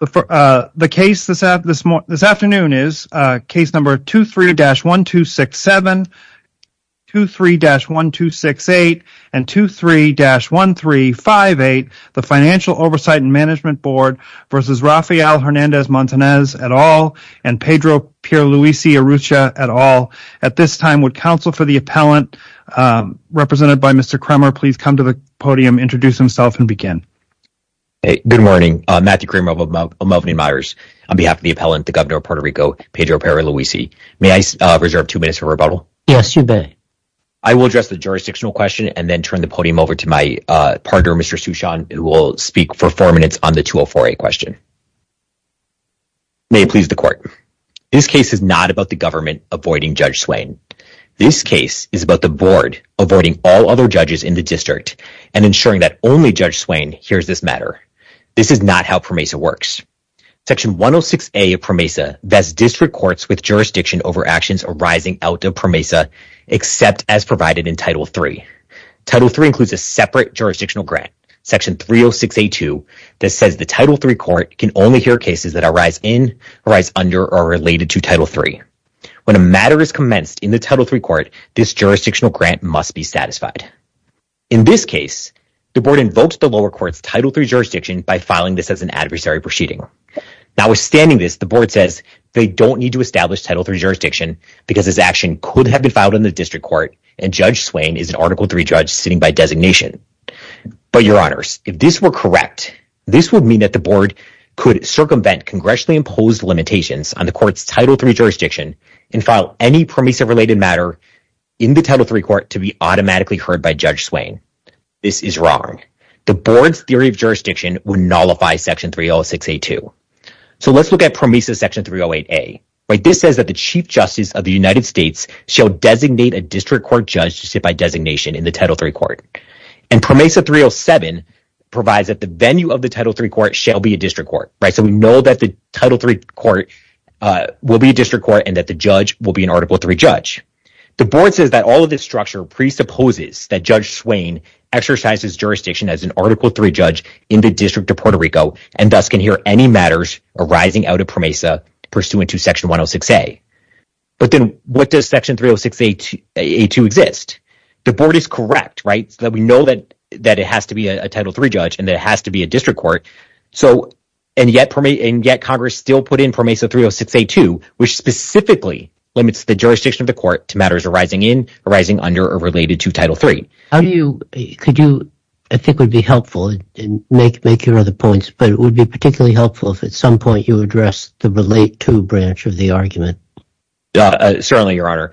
v. Rafael Hernandez-Montanez v. Pedro Pierluisi-Urrutia at all. At this time, would counsel for the appellant, represented by Mr. Kremer, please come to the podium, introduce himself, and begin. Good morning. Matthew Kramer of Melvin A. Myers on behalf of the appellant, the governor of Puerto Rico, Pedro Pierluisi. May I reserve two minutes for rebuttal? Yes, you may. I will address the jurisdictional question and then turn the podium over to my partner, Mr. Suchon, who will speak for four minutes on the 204A question. May it please the court. This case is not about the government avoiding Judge Swain. This case is about the board avoiding all other judges in the district and ensuring that only Judge Swain hears this matter. This is not how PROMESA works. Section 106A of PROMESA vests district courts with jurisdiction over actions arising out of PROMESA, except as provided in Title III. Title III includes a separate jurisdictional grant, Section 306A2, that says the Title III court can only hear cases that arise in, arise under, or are related to Title III. When a matter is commenced in the Title III court, this jurisdictional grant must be satisfied. In this case, the board invokes the lower court's Title III jurisdiction by filing this as an adversary proceeding. Notwithstanding this, the board says they don't need to establish Title III jurisdiction because this action could have been filed in the district court and Judge Swain is an Article III judge sitting by designation. But, Your Honors, if this were correct, this would mean that the board could circumvent congressionally imposed limitations on the court's Title III jurisdiction and file any PROMESA-related matter in the Title III court to be automatically heard by Judge Swain. This is wrong. The board's theory of jurisdiction would nullify Section 306A2. So, let's look at PROMESA Section 308A. This says that the Chief Justice of the United States shall designate a district court judge to sit by designation in the Title III court. And PROMESA 307 provides that the venue of the Title III court shall be a district court. So, we know that the Title III court will be a district court and that the judge will be an Article III judge. The board says that all of this structure presupposes that Judge Swain exercises jurisdiction as an Article III judge in the District of Puerto Rico and thus can hear any matters arising out of PROMESA pursuant to Section 306A2 exist. The board is correct, right, that we know that it has to be a Title III judge and that it has to be a district court. And yet, Congress still put in PROMESA 306A2, which specifically limits the jurisdiction of the court to matters arising under or related to Title III. Could you, I think would be helpful, make your other points, but it would be particularly helpful if at some point you address the relate to branch of the argument. Yeah, certainly, Your Honor.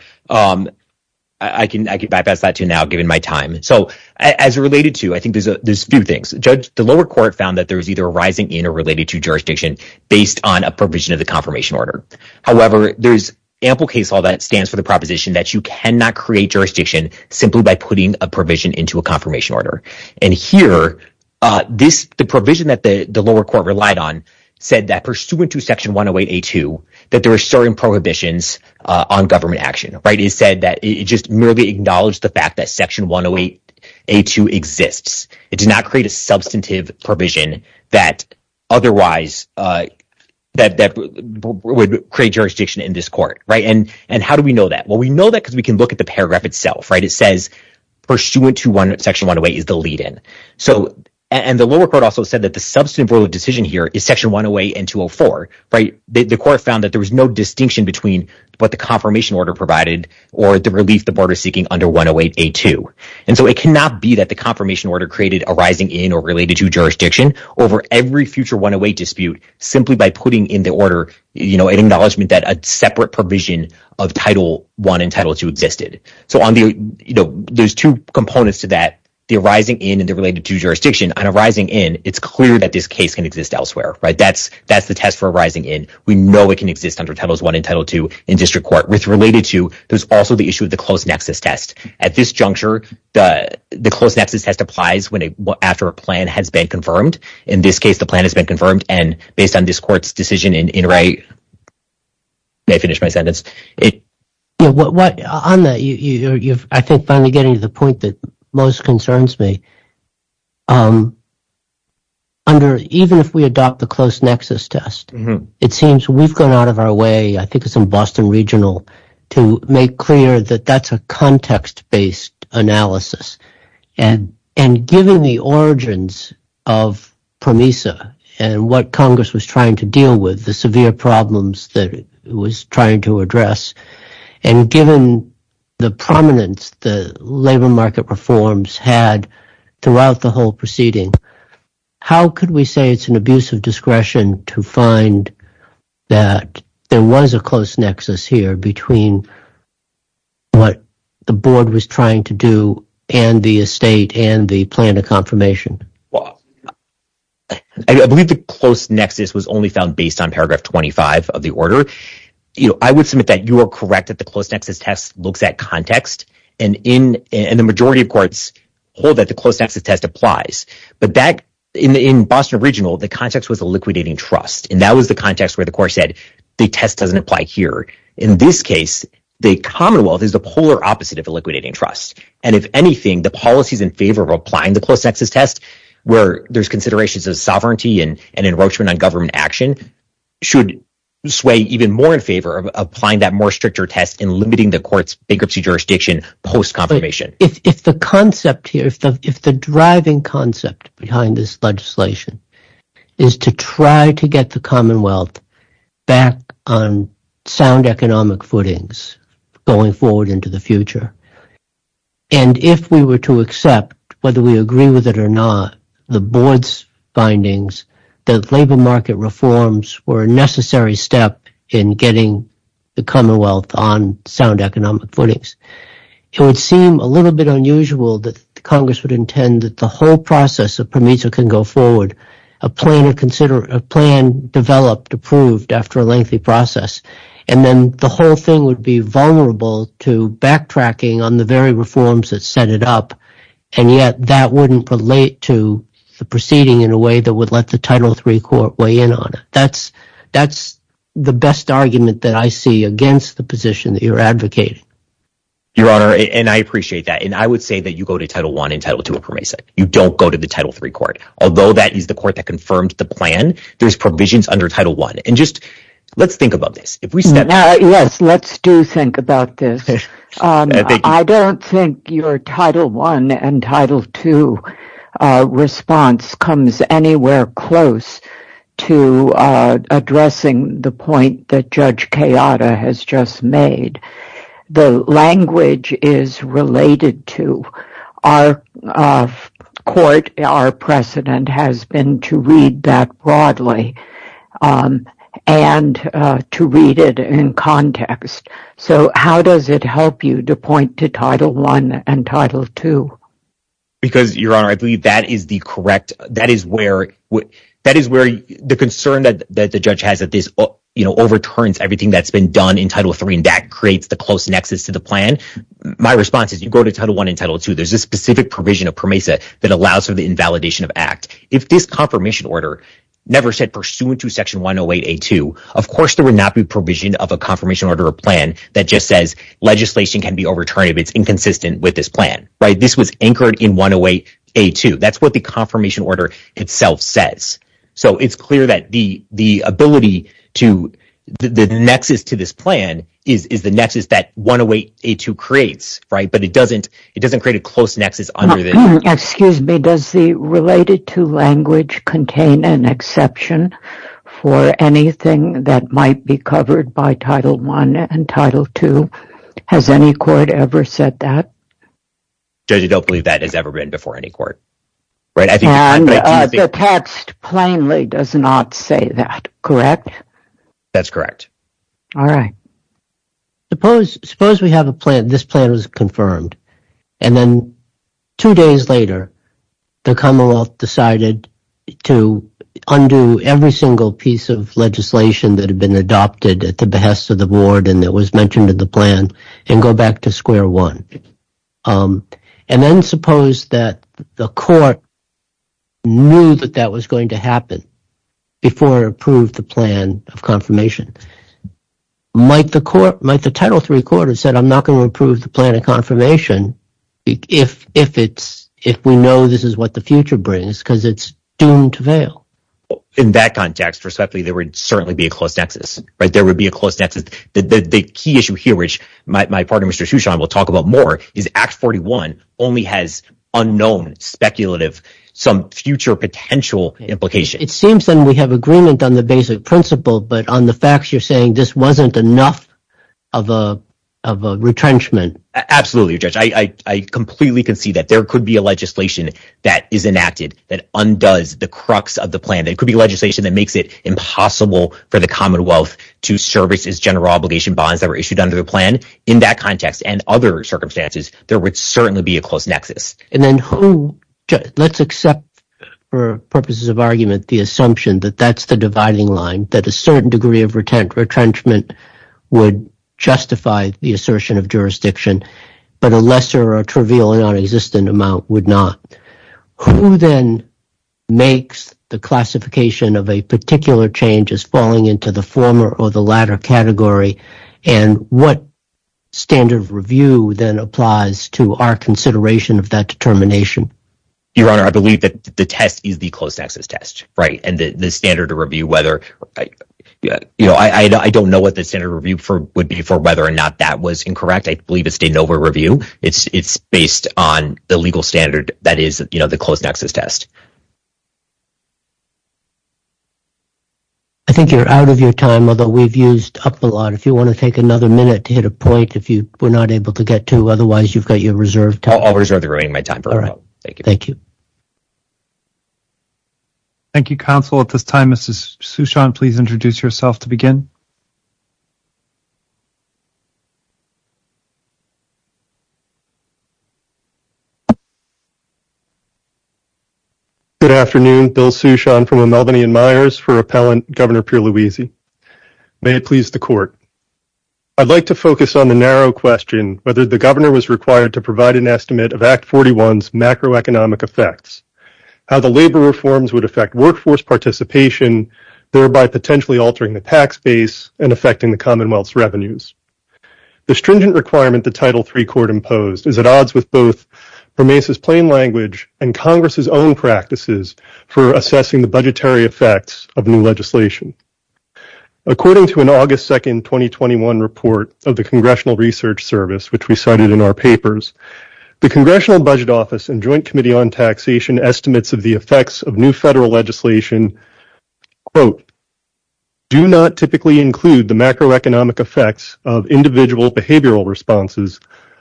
I can bypass that too now, given my time. So, as related to, I think there's a few things. Judge, the lower court found that there was either arising in or related to jurisdiction based on a provision of the confirmation order. However, there's ample case law that stands for the proposition that you cannot create jurisdiction simply by putting a provision into a confirmation order. And here, the provision that the lower court relied on said that pursuant to Section 108A2, that there are certain prohibitions on government action, right? It said that it just merely acknowledged the fact that Section 108A2 exists. It does not create a substantive provision that otherwise, that would create jurisdiction in this court, right? And how do we know that? Well, we know that because we can look at the paragraph itself, right? It says pursuant to Section 108 is the lead-in. So, and the lower court also said that the substantive decision here is Section 108 and 204, right? The court found that there was no distinction between what the confirmation order provided or the relief the board is seeking under 108A2. And so, it cannot be that the confirmation order created arising in or related to jurisdiction over every future 108 dispute simply by putting in the order, you know, an acknowledgement that a separate provision of Title I and Title II existed. So, on the, you know, there's two can exist elsewhere, right? That's the test for arising in. We know it can exist under Title I and Title II in district court. With related to, there's also the issue of the close nexus test. At this juncture, the close nexus test applies after a plan has been confirmed. In this case, the plan has been confirmed. And based on this court's decision in Ray, may I finish my sentence? You know, on that, you're, I think, finally getting to the point that most concerns me. Under, even if we adopt the close nexus test, it seems we've gone out of our way, I think it's in Boston Regional, to make clear that that's a context-based analysis. And giving the origins of PROMESA and what Congress was trying to deal with, the severe problems that it was trying to address, and given the prominence the labor market reforms had throughout the whole proceeding, how could we say it's an abuse of discretion to find that there was a close nexus here between what the board was trying to do and the estate and the plan of confirmation? I believe the close nexus was only found based on paragraph 25 of the order. I would submit that you are correct that the close nexus test looks at context, and the majority of courts hold that the close nexus test applies. But in Boston Regional, the context was a liquidating trust. And that was the context where the court said, the test doesn't apply here. In this case, the Commonwealth is the polar opposite of a liquidating trust. And if anything, the policies in favor of applying the close nexus test, where there's considerations of sovereignty and an enroachment on government action, should sway even more in favor of applying that more stricter test in limiting the court's bankruptcy jurisdiction post-confirmation. If the concept here, if the driving concept behind this legislation is to try to get the Commonwealth back on sound economic footings going forward into the future, and if we were to accept, whether we agree with it or not, the board's findings that labor market reforms were a necessary step in getting the Commonwealth on sound economic footings, it would seem a little bit unusual that Congress would intend that the whole process of PROMISO can go forward, a plan developed, approved after a lengthy process. And then the whole thing would be vulnerable to backtracking on the very reforms that set it up. And yet, that wouldn't relate to the proceeding in a way that would let the Title III court weigh in on it. That's the best argument that I see against the position that you're advocating. Your Honor, and I appreciate that. And I would say that you go to Title I and Title II of PROMISO. You don't go to the Title III court. Although that is the court that confirmed the plan, there's provisions under Title I. And just let's think about this. Yes, let's do think about this. I don't think your Title I and Title II response comes anywhere close to addressing the point that Judge Kayada has just made. The language is related to our court. Our precedent has been to read that broadly and to read it in context. So how does it help you to point to Title I and Title II? Because, Your Honor, I believe that is the correct, that is where the concern that the judge has that this overturns everything that's been done in Title III and that creates the close specific provision of PROMISO that allows for the invalidation of Act. If this confirmation order never said pursuant to Section 108A2, of course there would not be provision of a confirmation order or plan that just says legislation can be overturned if it's inconsistent with this plan. This was anchored in 108A2. That's what the confirmation order itself says. So it's clear that the ability to, the nexus to this plan is the nexus that 108A2 creates, right? But it doesn't, it doesn't create a close nexus. Excuse me, does the related to language contain an exception for anything that might be covered by Title I and Title II? Has any court ever said that? Judge, I don't believe that has ever been before any court, right? And the text plainly does not say that, correct? That's correct. All right. Suppose, suppose we have a plan, this plan was confirmed and then two days later, the Commonwealth decided to undo every single piece of legislation that had been adopted at the behest of the board and that was mentioned in the plan and go back to square one. And then suppose that the court knew that that was going to happen before it approved the plan of confirmation. Might the court, might the Title III court have said, I'm not going to approve the plan of confirmation if, if it's, if we know this is what the future brings, because it's doomed to fail. In that context, respectfully, there would certainly be a close nexus, right? There would be a close nexus. The key issue here, which my partner, Mr. Huchon, will talk about more is Act 41 only has unknown speculative, some future potential implication. It seems then we have agreement on the basic principle, but on the facts, you're saying this wasn't enough of a, of a retrenchment. Absolutely, Judge. I, I, I completely can see that there could be a legislation that is enacted that undoes the crux of the plan. It could be legislation that makes it impossible for the Commonwealth to service its general obligation bonds that were issued under the plan. In that context and other circumstances, there would certainly be a close nexus. And then who, let's accept for purposes of argument, the assumption that that's the retrenchment would justify the assertion of jurisdiction, but a lesser or trivial and non-existent amount would not. Who then makes the classification of a particular change as falling into the former or the latter category and what standard of review then applies to our consideration of that determination? Your Honor, I believe that the test is the you know, I, I don't know what the standard review for would be for whether or not that was incorrect. I believe it's a NOVA review. It's, it's based on the legal standard that is, you know, the closed nexus test. I think you're out of your time, although we've used up a lot. If you want to take another minute to hit a point, if you were not able to get to, otherwise you've got your reserve time. I'll reserve the remaining of my time. All right. Thank you. Thank you, counsel. At this time, Mrs. Sushant, please introduce yourself to begin. Good afternoon. Bill Sushant from the Melvinian Myers for Appellant Governor Pierluisi. May it please the court. I'd like to focus on the narrow question, whether the governor was macroeconomic effects, how the labor reforms would affect workforce participation, thereby potentially altering the tax base and affecting the Commonwealth's revenues. The stringent requirement, the title three court imposed is at odds with both remains as plain language and Congress's own practices for assessing the budgetary effects of new legislation. According to an August 2nd, 2021 report of the congressional research service, which we cited in our papers, the congressional budget office and joint committee on taxation estimates of the effects of new federal legislation, quote, do not typically include the macroeconomic effects of individual behavioral responses,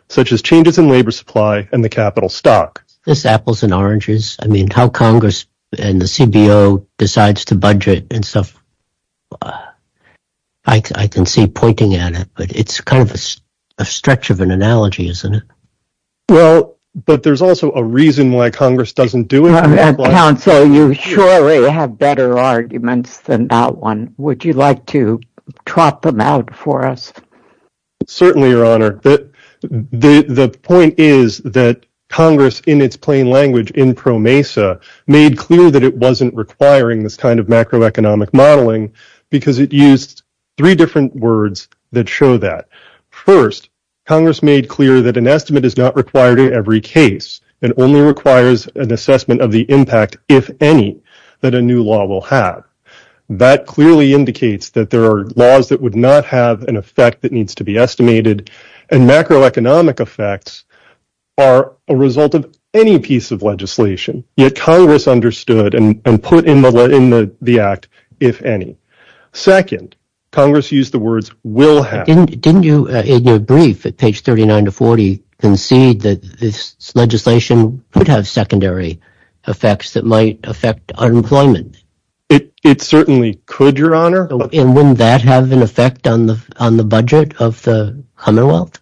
such as changes in labor supply and the capital stock. This apples and oranges, I mean, how Congress and the CBO decides to budget and stuff. Uh, I, I can see pointing at it, but it's kind of a stretch of an analogy, isn't it? Well, but there's also a reason why Congress doesn't do it. Council, you surely have better arguments than that one. Would you like to trot them out for us? Certainly, your honor. The, the, the point is that Congress in its macroeconomic modeling, because it used three different words that show that first Congress made clear that an estimate is not required in every case and only requires an assessment of the impact. If any, that a new law will have that clearly indicates that there are laws that would not have an effect that needs to be estimated and macroeconomic effects are a result of any piece of legislation yet Congress understood and put in the, in the, the act, if any. Second, Congress used the words will have. Didn't you, in your brief at page 39 to 40 concede that this legislation could have secondary effects that might affect unemployment? It, it certainly could, your honor. And wouldn't that have an effect on the, on the budget of the Commonwealth?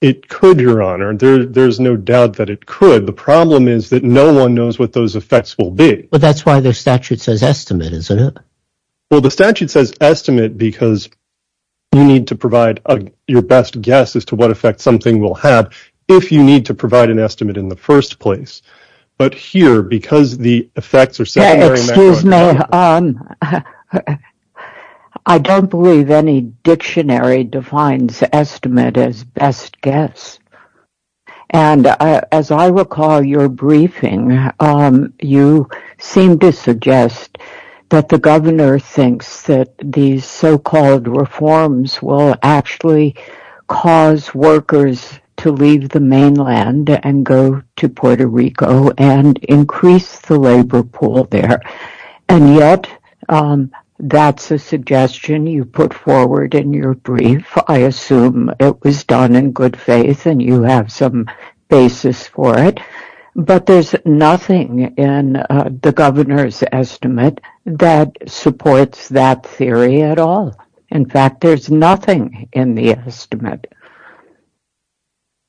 It could, your honor. There, there's no doubt that it could. The problem is that no one knows what those effects will be. But that's why their statute says estimate, isn't it? Well, the statute says estimate because you need to provide your best guess as to what effect something will have if you need to provide an estimate in the first place. But here, because the effects are secondary. Excuse me. Um, I don't believe any dictionary defines estimate as best guess. And as I recall your briefing, um, you seem to suggest that the governor thinks that these so-called reforms will actually cause workers to leave the mainland and go to Puerto Rico and increase the labor pool there. And yet, um, that's a suggestion you put forward in your brief. I assume it was done in good faith and you have some basis for it, but there's nothing in the governor's estimate that supports that theory at all. In fact, there's nothing in the estimate.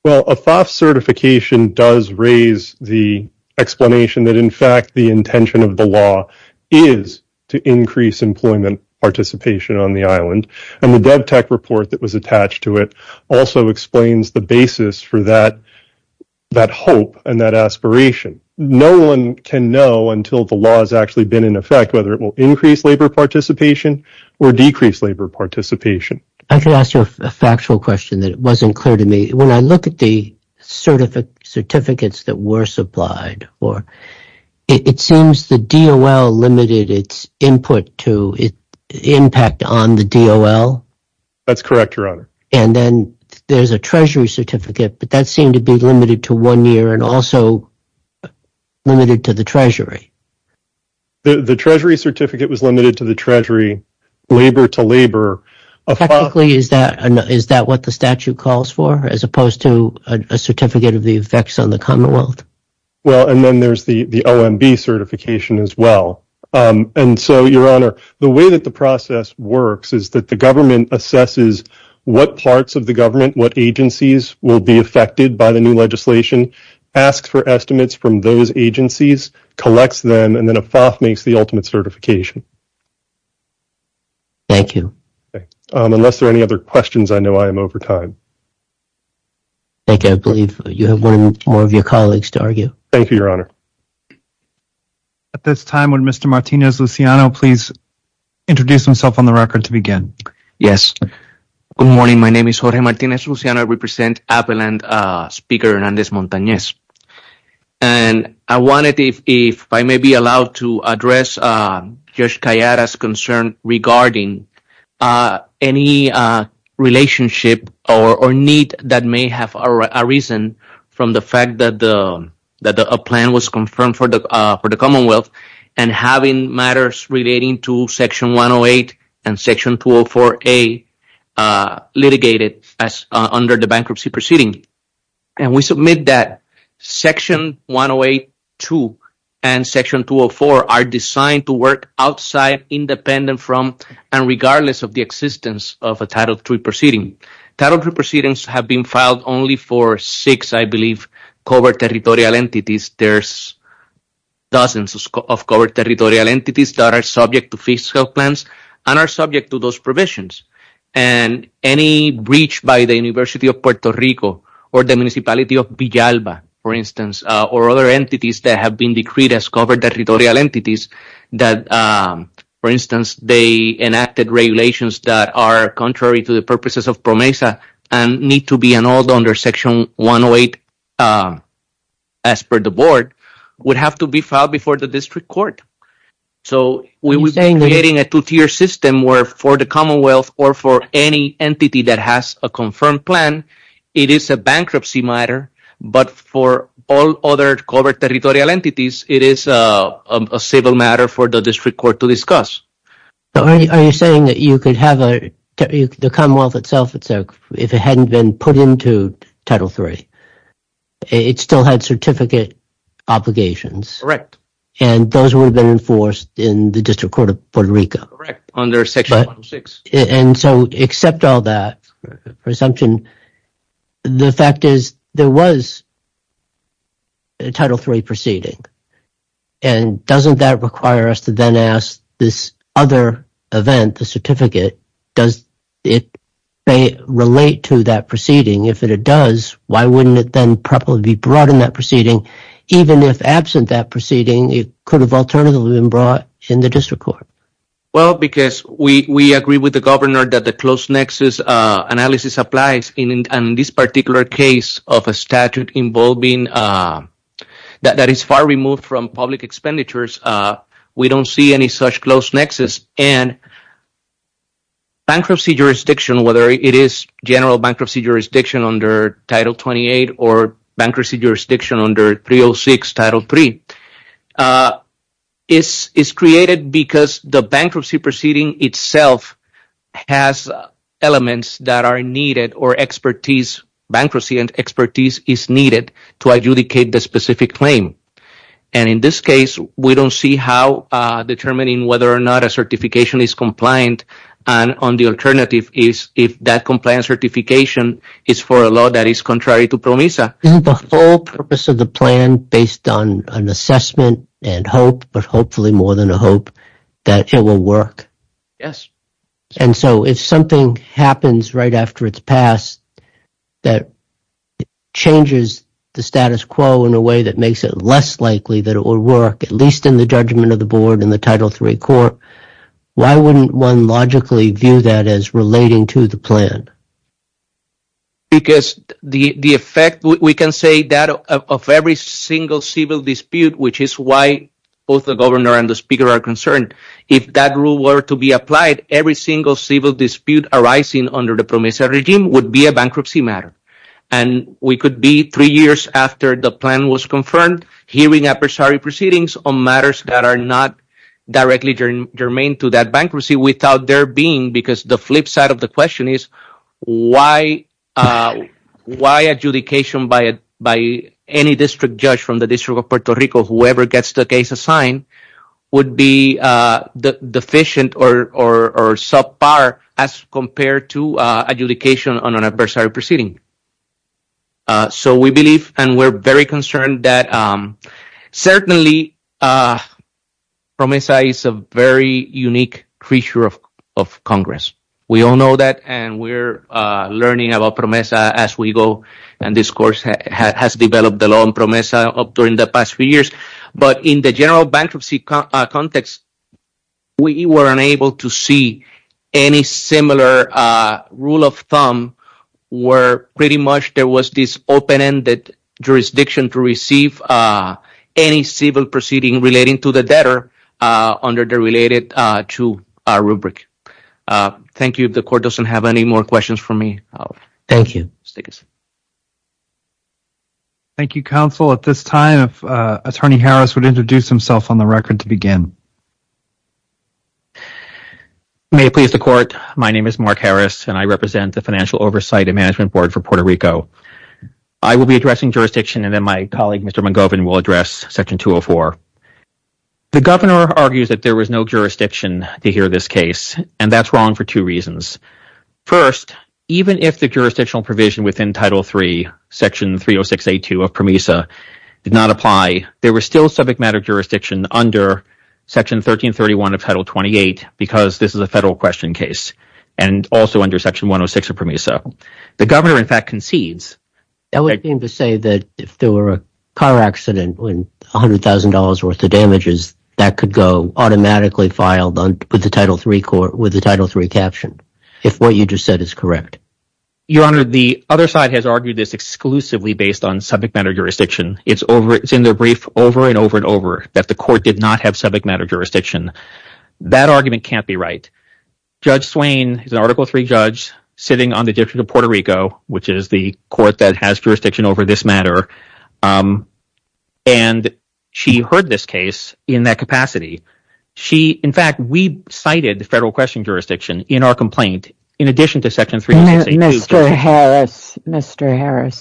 Well, a FAFSA certification does raise the explanation that in fact, the intention of the law is to increase employment participation on the island. And the DevTech report that was attached to it also explains the basis for that, that hope and that aspiration. No one can know until the law has actually been in effect, whether it will increase labor participation or decrease labor participation. I can ask you a factual question that wasn't clear to me. When I look at the certificate certificates that were or it seems the DOL limited its input to impact on the DOL. That's correct, your honor. And then there's a treasury certificate, but that seemed to be limited to one year and also limited to the treasury. The treasury certificate was limited to the treasury labor to labor. Technically, is that, is that what the statute calls for as opposed to a certificate of the Commonwealth? Well, and then there's the, the OMB certification as well. And so your honor, the way that the process works is that the government assesses what parts of the government, what agencies will be affected by the new legislation, asks for estimates from those agencies, collects them, and then a FAFSA makes the ultimate certification. Thank you. Unless there are any other questions, I know I am over time. I think I believe you have one more of your colleagues to argue. Thank you, your honor. At this time, would Mr. Martinez-Luciano please introduce himself on the record to begin? Yes. Good morning. My name is Jorge Martinez-Luciano. I represent Appaland, Speaker Hernandez-Montanez. And I wanted, if I may be allowed to address Judge Callada's concern regarding any relationship or need that may have arisen from the fact that the, that a plan was confirmed for the Commonwealth and having matters relating to Section 108 and Section 204A litigated as under the bankruptcy proceeding. And we submit that Section 108.2 and Section 204 are designed to work outside, independent from, and regardless of the existence of a Title III proceeding. Title III proceedings have been filed only for six, I believe, covered territorial entities. There's dozens of covered territorial entities that are subject to fiscal plans and are subject to those provisions. And any breach by the University of or other entities that have been decreed as covered territorial entities, that, for instance, they enacted regulations that are contrary to the purposes of PROMESA and need to be annulled under Section 108 as per the board, would have to be filed before the district court. So we were creating a two-tier system where for the Commonwealth or for any entity that has a confirmed plan, it is a bankruptcy matter. But for all other covered territorial entities, it is a civil matter for the district court to discuss. Are you saying that you could have a, the Commonwealth itself, if it hadn't been put into Title III, it still had certificate obligations? Correct. And those would have been enforced in the District Court of Puerto Rico? Under Section 106. And so, except all that presumption, the fact is there was a Title III proceeding. And doesn't that require us to then ask this other event, the certificate, does it relate to that proceeding? If it does, why wouldn't it then probably be brought in that proceeding? Even if absent that proceeding, it could have alternatively been brought in the because we agree with the governor that the close nexus analysis applies. And in this particular case of a statute involving, that is far removed from public expenditures, we don't see any such close nexus. And bankruptcy jurisdiction, whether it is general bankruptcy jurisdiction under Title 28 or bankruptcy jurisdiction under 306 Title III, is created because the bankruptcy proceeding itself has elements that are needed or expertise, bankruptcy and expertise is needed to adjudicate the specific claim. And in this case, we don't see how determining whether or not a certification is Isn't the whole purpose of the plan based on an assessment and hope, but hopefully more than a hope, that it will work? Yes. And so, if something happens right after it's passed that changes the status quo in a way that makes it less likely that it will work, at least in the judgment of the board and the Title III court, why wouldn't one logically view that as relating to the plan? Because the effect, we can say that of every single civil dispute, which is why both the governor and the speaker are concerned, if that rule were to be applied, every single civil dispute arising under the PROMESA regime would be a bankruptcy matter. And we could be three years after the plan was confirmed, hearing appropriate proceedings on matters that are not directly germane to that bankruptcy without there being, because the flip side of the question is, why adjudication by any district judge from the District of Puerto Rico, whoever gets the case assigned, would be deficient or subpar as compared to adjudication on an adversary proceeding. So we believe and we're very concerned that certainly PROMESA is a very unique creature of Congress. We all know that and we're learning about PROMESA as we go. And this course has developed along PROMESA up during the past few years. But in the general bankruptcy context, we were unable to see any similar rule of thumb where pretty much there was this open-ended jurisdiction to receive any civil proceeding relating to the debtor under the related two rubric. Thank you. The court doesn't have any more questions for me. Thank you. Thank you, counsel. At this time, Attorney Harris would introduce himself on the record to begin. May it please the court. My name is Mark Harris and I represent the Financial Oversight and Management Board for Puerto Rico. I will be addressing jurisdiction and then my colleague, Mr. McGovan, will address Section 204. The governor argues that there was no jurisdiction to hear this case and that's wrong for two reasons. First, even if the jurisdictional provision within Title III, Section 306A2 of PROMESA did not apply, there was still subject matter jurisdiction under Section 1331 of Title 28 because this is a federal question case and also under Section 106 of PROMESA. The governor, in fact, concedes. That would mean to say that if there were a car accident and $100,000 worth of damages, that could go automatically filed with the Title III court with the Title III caption if what you just said is correct. Your Honor, the other side has argued this exclusively based on subject matter jurisdiction. It's in their brief over and over and over that the court did not have subject matter jurisdiction. That argument can't be right. Judge Swain is an Article III judge sitting on the District of Colorado. She heard this case in that capacity. In fact, we cited the federal question jurisdiction in our complaint in addition to Section 306A2. Mr. Harris,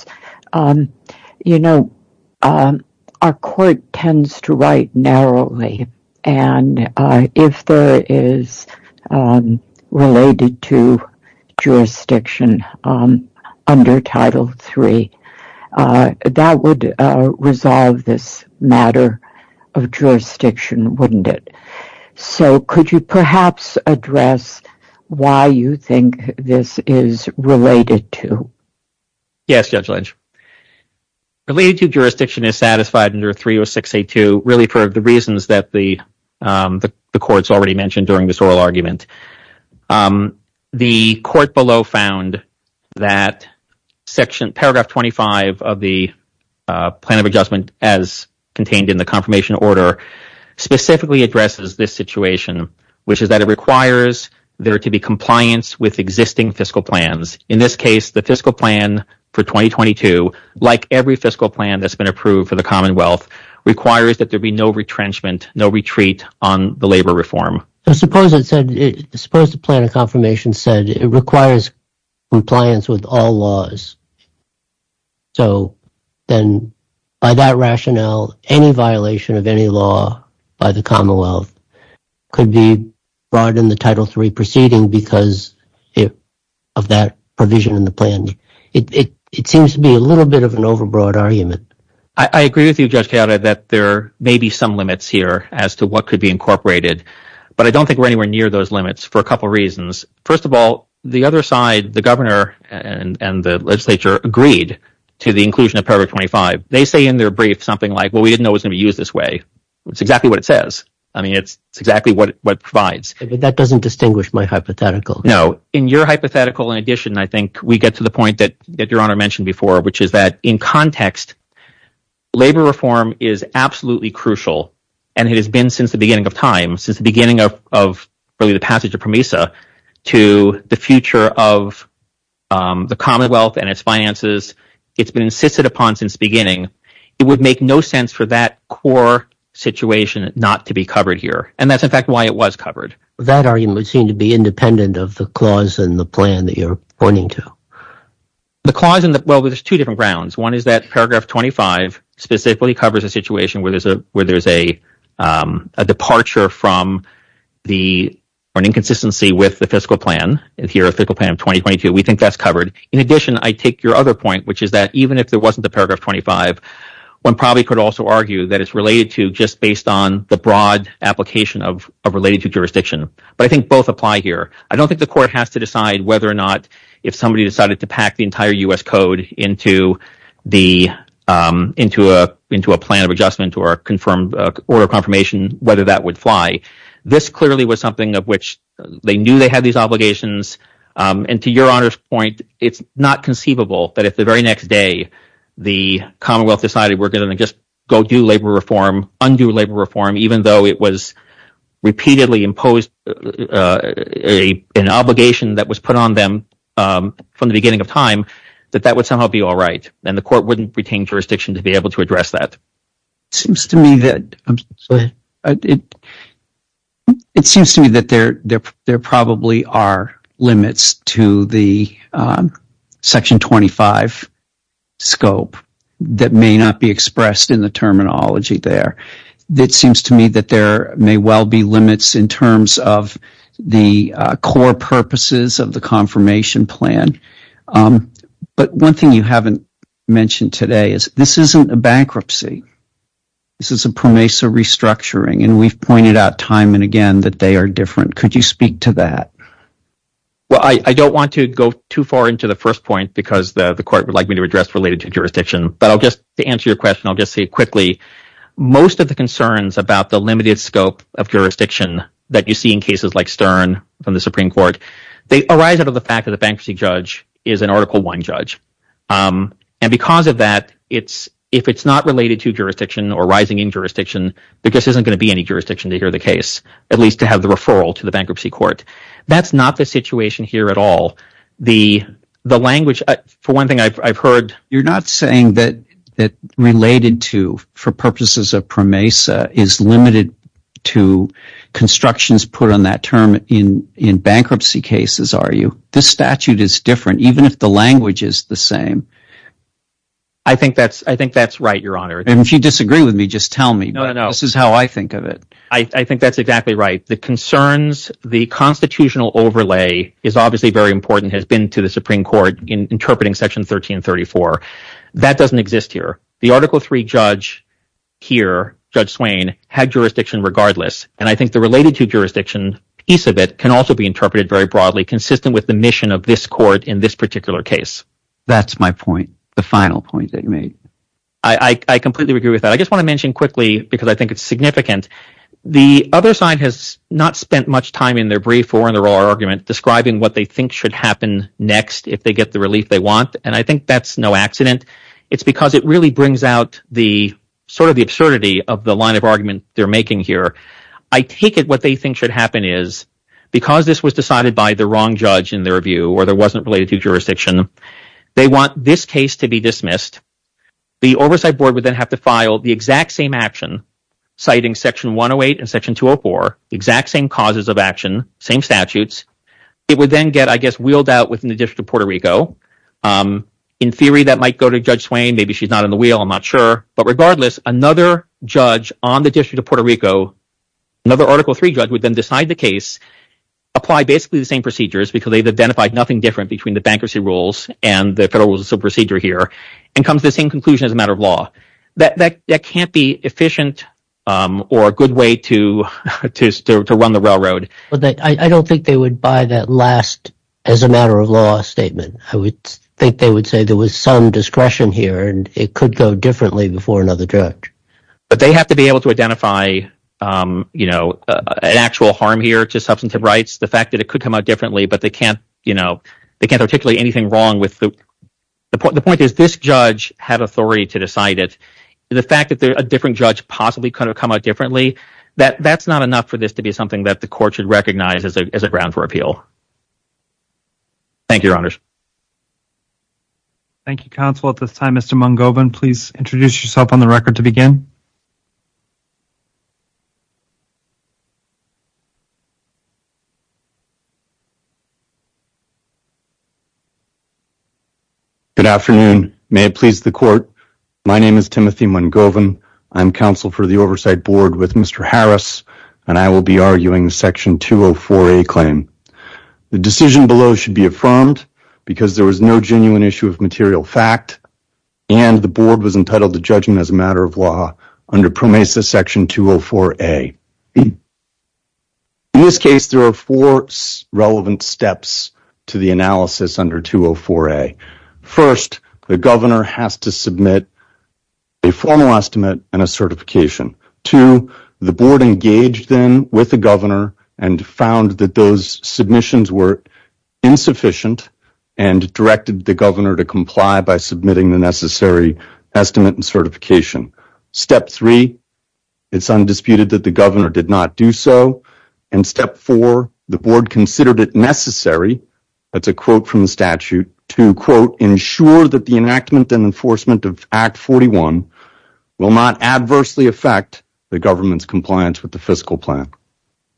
our court tends to write narrowly. If there is related to jurisdiction under Title III, that would resolve this matter of jurisdiction, wouldn't it? Could you perhaps address why you think this is related to? Yes, Judge Lynch. Related to jurisdiction is satisfied under 306A2 really for the reasons that the court's already mentioned during this oral argument. The court below found that paragraph 25 of the plan of adjustment as contained in the confirmation order specifically addresses this situation, which is that it requires there to be compliance with existing fiscal plans. In this case, the fiscal plan for 2022, like every fiscal plan that's no retrenchment, no retreat on the labor reform. Suppose the plan of confirmation said it requires compliance with all laws. By that rationale, any violation of any law by the Commonwealth could be brought in the Title III proceeding because of that provision in the plan. It seems to be a little bit of an overbroad argument. I agree with you that there may be some limits here as to what could be incorporated, but I don't think we're anywhere near those limits for a couple of reasons. First of all, the other side, the governor and the legislature agreed to the inclusion of paragraph 25. They say in their brief something like, well, we didn't know it was going to be used this way. It's exactly what it says. I mean, it's exactly what it provides. That doesn't distinguish my hypothetical. No. In your hypothetical, in addition, we get to the point that your honor mentioned before, which is that in context, labor reform is absolutely crucial and it has been since the beginning of time, since the beginning of the passage of PROMESA to the future of the Commonwealth and its finances. It's been insisted upon since the beginning. It would make no sense for that core situation not to be covered here, and that's in fact why it was covered. That argument would seem to be independent of the plan that you're pointing to. Well, there's two different grounds. One is that paragraph 25 specifically covers a situation where there's a departure from the or an inconsistency with the fiscal plan. If you're a fiscal plan of 2022, we think that's covered. In addition, I take your other point, which is that even if there wasn't a paragraph 25, one probably could also argue that it's related to just based on the broad application of related jurisdiction. But I think both apply here. I don't think the court has to decide whether or not if somebody decided to pack the entire U.S. code into a plan of adjustment or a confirmation, whether that would fly. This clearly was something of which they knew they had these obligations, and to your honor's point, it's not conceivable that if the very next day the Commonwealth decided we're going to just go do labor reform, undo labor reform, even though it was imposed an obligation that was put on them from the beginning of time, that that would somehow be all right, and the court wouldn't retain jurisdiction to be able to address that. It seems to me that there probably are limits to the section 25 scope that may not be expressed in the terminology there. It seems to me that there may well be limits in terms of the core purposes of the confirmation plan. But one thing you haven't mentioned today is this isn't a bankruptcy. This is a PROMESA restructuring, and we've pointed out time and again that they are different. Could you speak to that? Well, I don't want to go too far into the first point because the court would like me to address related to jurisdiction, but to answer your question, I'll just say quickly, most of the concerns about the limited scope of jurisdiction that you see in cases like Stern from the Supreme Court arise out of the fact that the bankruptcy judge is an Article I judge. Because of that, if it's not related to jurisdiction or rising in jurisdiction, there just isn't going to be any jurisdiction to hear the case, at least to have the referral to the bankruptcy court. That's not the situation here at all. The language, for one thing, I've heard... You're not saying that related to, for purposes of PROMESA, is limited to constructions put on that term in bankruptcy cases, are you? This statute is different, even if the language is the same. I think that's right, Your Honor. If you disagree with me, just tell me. This is how I think of it. I think that's exactly right. The concerns, the constitutional overlay is obviously very to the Supreme Court in interpreting Section 1334. That doesn't exist here. The Article III judge here, Judge Swain, had jurisdiction regardless, and I think the related to jurisdiction piece of it can also be interpreted very broadly, consistent with the mission of this court in this particular case. That's my point, the final point that you made. I completely agree with that. I just want to mention quickly, because I think it's significant, the other side has not spent much time in their brief or in their oral argument describing what they think should happen next if they get the relief they want, and I think that's no accident. It's because it really brings out sort of the absurdity of the line of argument they're making here. I take it what they think should happen is, because this was decided by the wrong judge in their view or there wasn't related to jurisdiction, they want this case to be dismissed. The Oversight Board would then have to file the exact same action, citing Section 108 and Section 204, exact same causes of action, same statutes. It would then get, I guess, wheeled out within the District of Puerto Rico. In theory, that might go to Judge Swain. Maybe she's not in the wheel. I'm not sure. But regardless, another judge on the District of Puerto Rico, another Article III judge would then decide the case, apply basically the same procedures, because they've identified nothing different between the bankruptcy rules and the federal rules of procedure here, and comes the same conclusion as a matter of law. That can't be efficient or a good way to run the railroad. I don't think they would buy that last, as a matter of law, statement. I would think they would say there was some discretion here and it could go differently before another judge. But they have to be able to identify an actual harm here to substantive rights, the fact that it could come out differently, but they can't articulate anything wrong. The point is, this judge had authority to decide it. The fact that a different judge possibly could have come out differently, that's not enough for this to be something that the Court should recognize as a ground for appeal. Thank you, Your Honors. Thank you, Counsel. At this time, Mr. Mungovan, please introduce yourself on the record to begin. Good afternoon. May it please the Court, my name is Timothy Mungovan. I'm Counsel for the Oversight Board with Mr. Harris, and I will be arguing Section 204A claim. The decision below should be affirmed because there was no genuine issue of material fact and the Board was entitled to judgment as a matter of law under PROMESA Section 204A. In this case, there are four relevant steps to the analysis under 204A. First, the Governor has to submit a formal estimate and a certification. Two, the Board engaged then with the Governor and found that those submissions were insufficient and directed the Governor to comply by submitting the necessary estimate and certification. Step three, it's undisputed that the Governor did not do so, and step four, the Board considered it necessary, that's a quote from the statute, to, quote, ensure that the enactment and enforcement of Act 41 will not adversely affect the Government's compliance with the fiscal plan.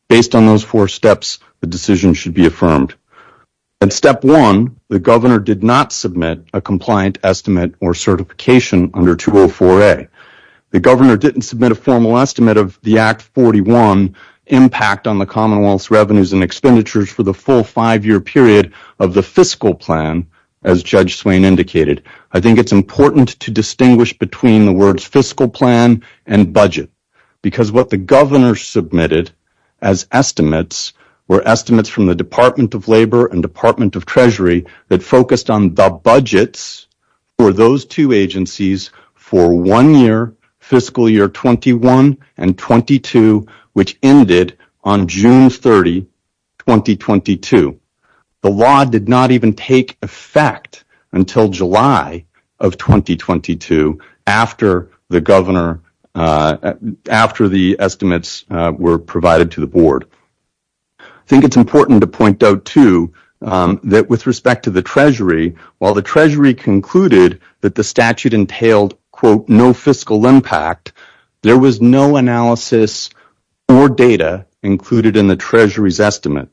Based on those four steps, the decision should be affirmed. And step one, the Governor did not submit a compliant estimate or certification under 204A. The Governor didn't submit a formal estimate of the Act 41 impact on the Commonwealth's revenues and expenditures for the full five-year period of the fiscal plan, as Judge Swain indicated. I think it's important to distinguish between the words fiscal plan and budget because what the Governor submitted as estimates were estimates from the Department of Labor and Department of for one year, fiscal year 21 and 22, which ended on June 30, 2022. The law did not even take effect until July of 2022 after the estimates were provided to the Board. I think it's important to point out, too, that with respect to the Treasury, while the Treasury concluded that the statute entailed, quote, no fiscal impact, there was no analysis or data included in the Treasury's estimate.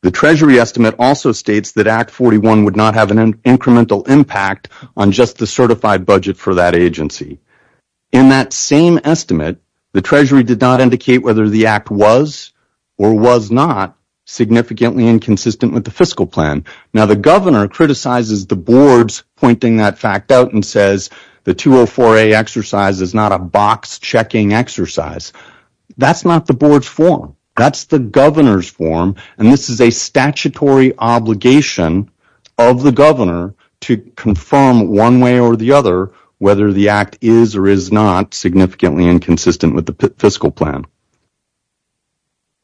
The Treasury estimate also states that Act 41 would not have an incremental impact on just the certified budget for that agency. In that same estimate, the Treasury did not indicate whether the Act was or was not significantly inconsistent with the fiscal plan. Now, the Governor criticizes the Board's pointing that fact out and says the 204A exercise is not a box-checking exercise. That's not the Board's form. That's the Governor's form, and this is a statutory obligation of the Governor to confirm one way or the other whether the Act is or is not significantly inconsistent with the fiscal plan.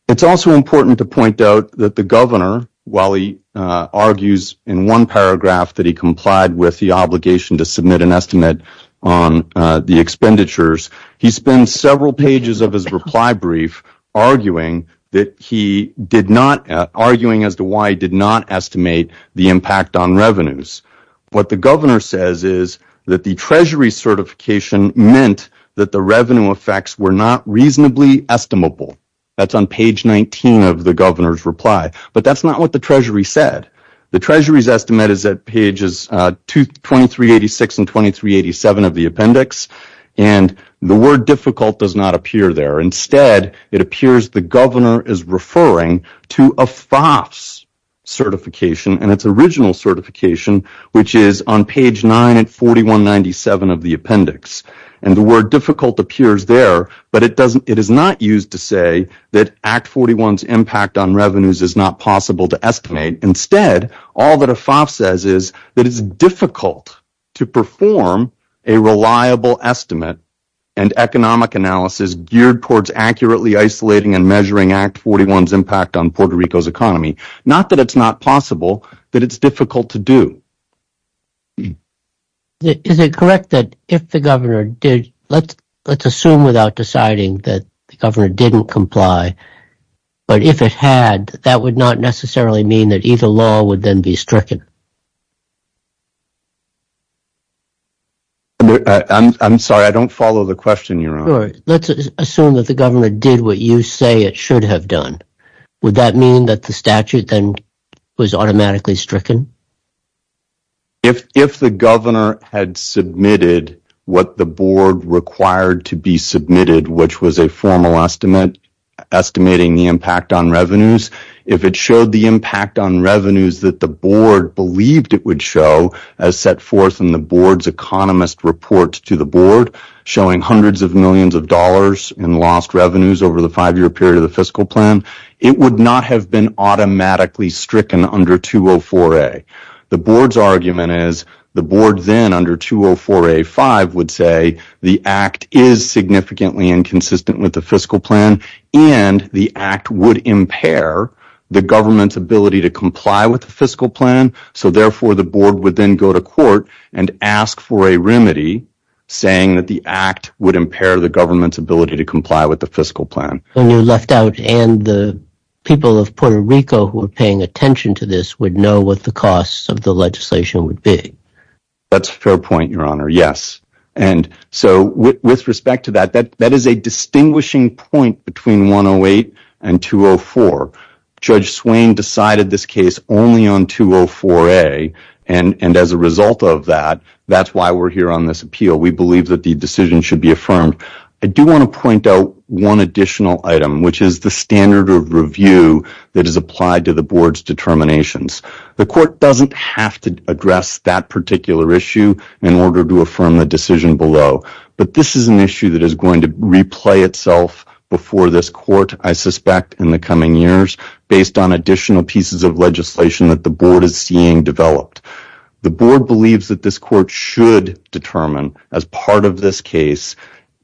It's also important to point out that the Governor, while he argues in one paragraph that he complied with the obligation to submit an estimate on the expenditures, he spends several pages of his reply brief arguing as to why he did not estimate the impact on revenues. What the Governor says is that the Treasury certification meant that the revenue effects were not reasonably estimable. That's on page 19 of the Governor's reply, but that's not what the Treasury said. The Treasury's estimate is at pages 2386 and 2387 of the appendix, and the word difficult does not appear there. Instead, it appears the Governor is referring to a FOFS certification and its original certification, which is on page 9 and 4197 of the appendix. The word difficult appears there, but it is not used to say that Act 41's impact on revenues is not possible to estimate. Instead, all that a FOFS says is that it's difficult to perform a reliable estimate and economic analysis geared towards accurately isolating and measuring Act 41's impact on Puerto Rico's economy. Not that it's not possible, but it's difficult to do. Is it correct that if the Governor did, let's assume without deciding that the Governor didn't comply, but if it had, that would not necessarily mean that either law would then be stricken? I'm sorry, I don't follow the question, Your Honor. Let's assume that the Governor did what you say it should have done. Would that mean that the statute then was automatically stricken? If the Governor had submitted what the Board required to be submitted, which was a formal estimating the impact on revenues, if it showed the impact on revenues that the Board believed it would show, as set forth in the Board's economist report to the Board, showing hundreds of millions of dollars in lost revenues over the five-year period of the fiscal plan, it would not have been automatically stricken under 204A. The Board's argument is the Board then, under 204A5, would say the Act is significantly inconsistent with the fiscal plan and the Act would impair the Government's ability to comply with the fiscal plan, so therefore the Board would then go to court and ask for a remedy saying that the Act would impair the Government's ability to comply with the fiscal plan. When you left out and the people of Puerto Rico who were paying attention to this would know what the costs of the legislation would be? That's a fair point, yes. With respect to that, that is a distinguishing point between 108 and 204. Judge Swain decided this case only on 204A, and as a result of that, that's why we're here on this appeal. We believe that the decision should be affirmed. I do want to point out one additional item, which is the standard of review that is applied to the Board's determinations. The Court doesn't have to address that particular issue in order to affirm the decision below, but this is an issue that is going to replay itself before this Court, I suspect, in the coming years based on additional pieces of legislation that the Board is seeing developed. The Board believes that this Court should determine, as part of this case,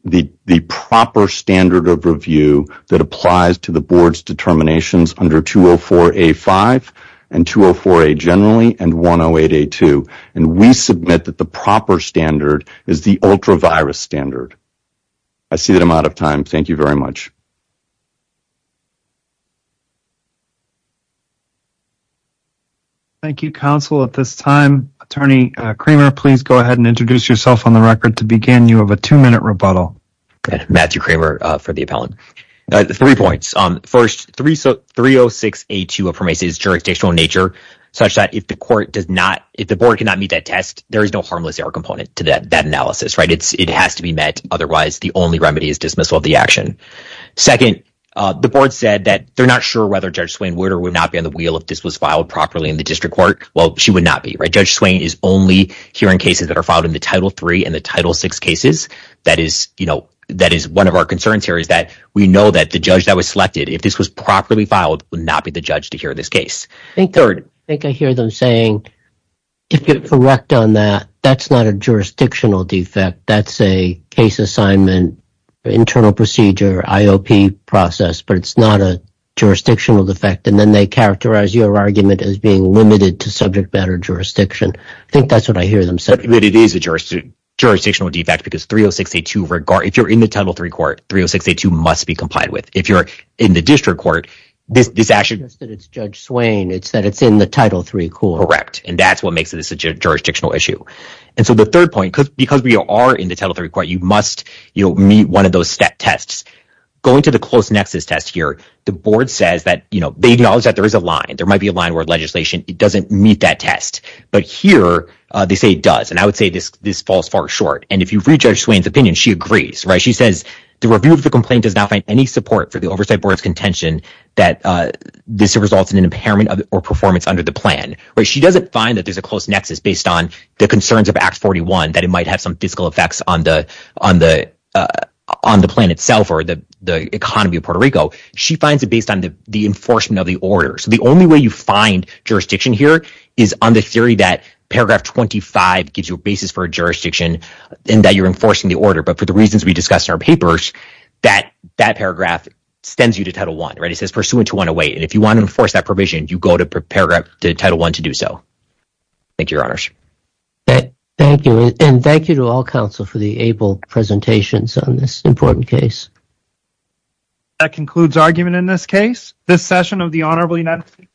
the proper standard of review that applies to the Board's determinations under 204A-5 and 204A generally, and 108A-2, and we submit that the proper standard is the ultra-virus standard. I see that I'm out of time. Thank you very much. Thank you, Counsel. At this time, Attorney Kramer, please go ahead and introduce yourself on the record to begin. You have a two-minute rebuttal. Matthew Kramer for the appellant. Three points. First, 306A-2 affirmates its jurisdictional nature such that if the Board cannot meet that test, there is no harmless error component to that analysis. It has to be met. Otherwise, the only remedy is dismissal of the action. Second, the Board said that they're not sure whether Judge Swain would or would not be on the wheel if this was filed properly in the District Court. Well, she would not be. Judge Swain would not be on the wheel if this was filed properly in the Title VI cases. That is one of our concerns here is that we know that the judge that was selected, if this was properly filed, would not be the judge to hear this case. Third. I think I hear them saying, if you're correct on that, that's not a jurisdictional defect. That's a case assignment, internal procedure, IOP process, but it's not a jurisdictional defect. And then they characterize your argument as being limited to subject matter jurisdiction. I think that's what it is. It is a jurisdictional defect because if you're in the Title III court, 30682 must be complied with. If you're in the District Court, this action is in the Title III court. Correct. And that's what makes it such a jurisdictional issue. And so the third point, because we are in the Title III court, you must meet one of those tests. Going to the close nexus test here, the Board says that they acknowledge that there is a line. There might be a line where legislation doesn't meet that test. But here they say it does. And I would say this falls far short. And if you read Judge Swain's opinion, she agrees. She says the review of the complaint does not find any support for the oversight board's contention that this results in an impairment or performance under the plan. She doesn't find that there's a close nexus based on the concerns of Act 41, that it might have some fiscal effects on the plan itself or the economy of Puerto Rico. She finds it based on the enforcement of the order. So the only way you find jurisdiction here is on the theory that paragraph 25 gives you a basis for a jurisdiction and that you're enforcing the order. But for the reasons we discussed in our papers, that paragraph extends you to Title I. It says pursuant to 108. And if you want to enforce that provision, you go to paragraph Title I to do so. Thank you, Your Honors. Thank you. And thank you to all counsel for the able presentations on this important case. That concludes argument in this case. This session of the Honorable United States...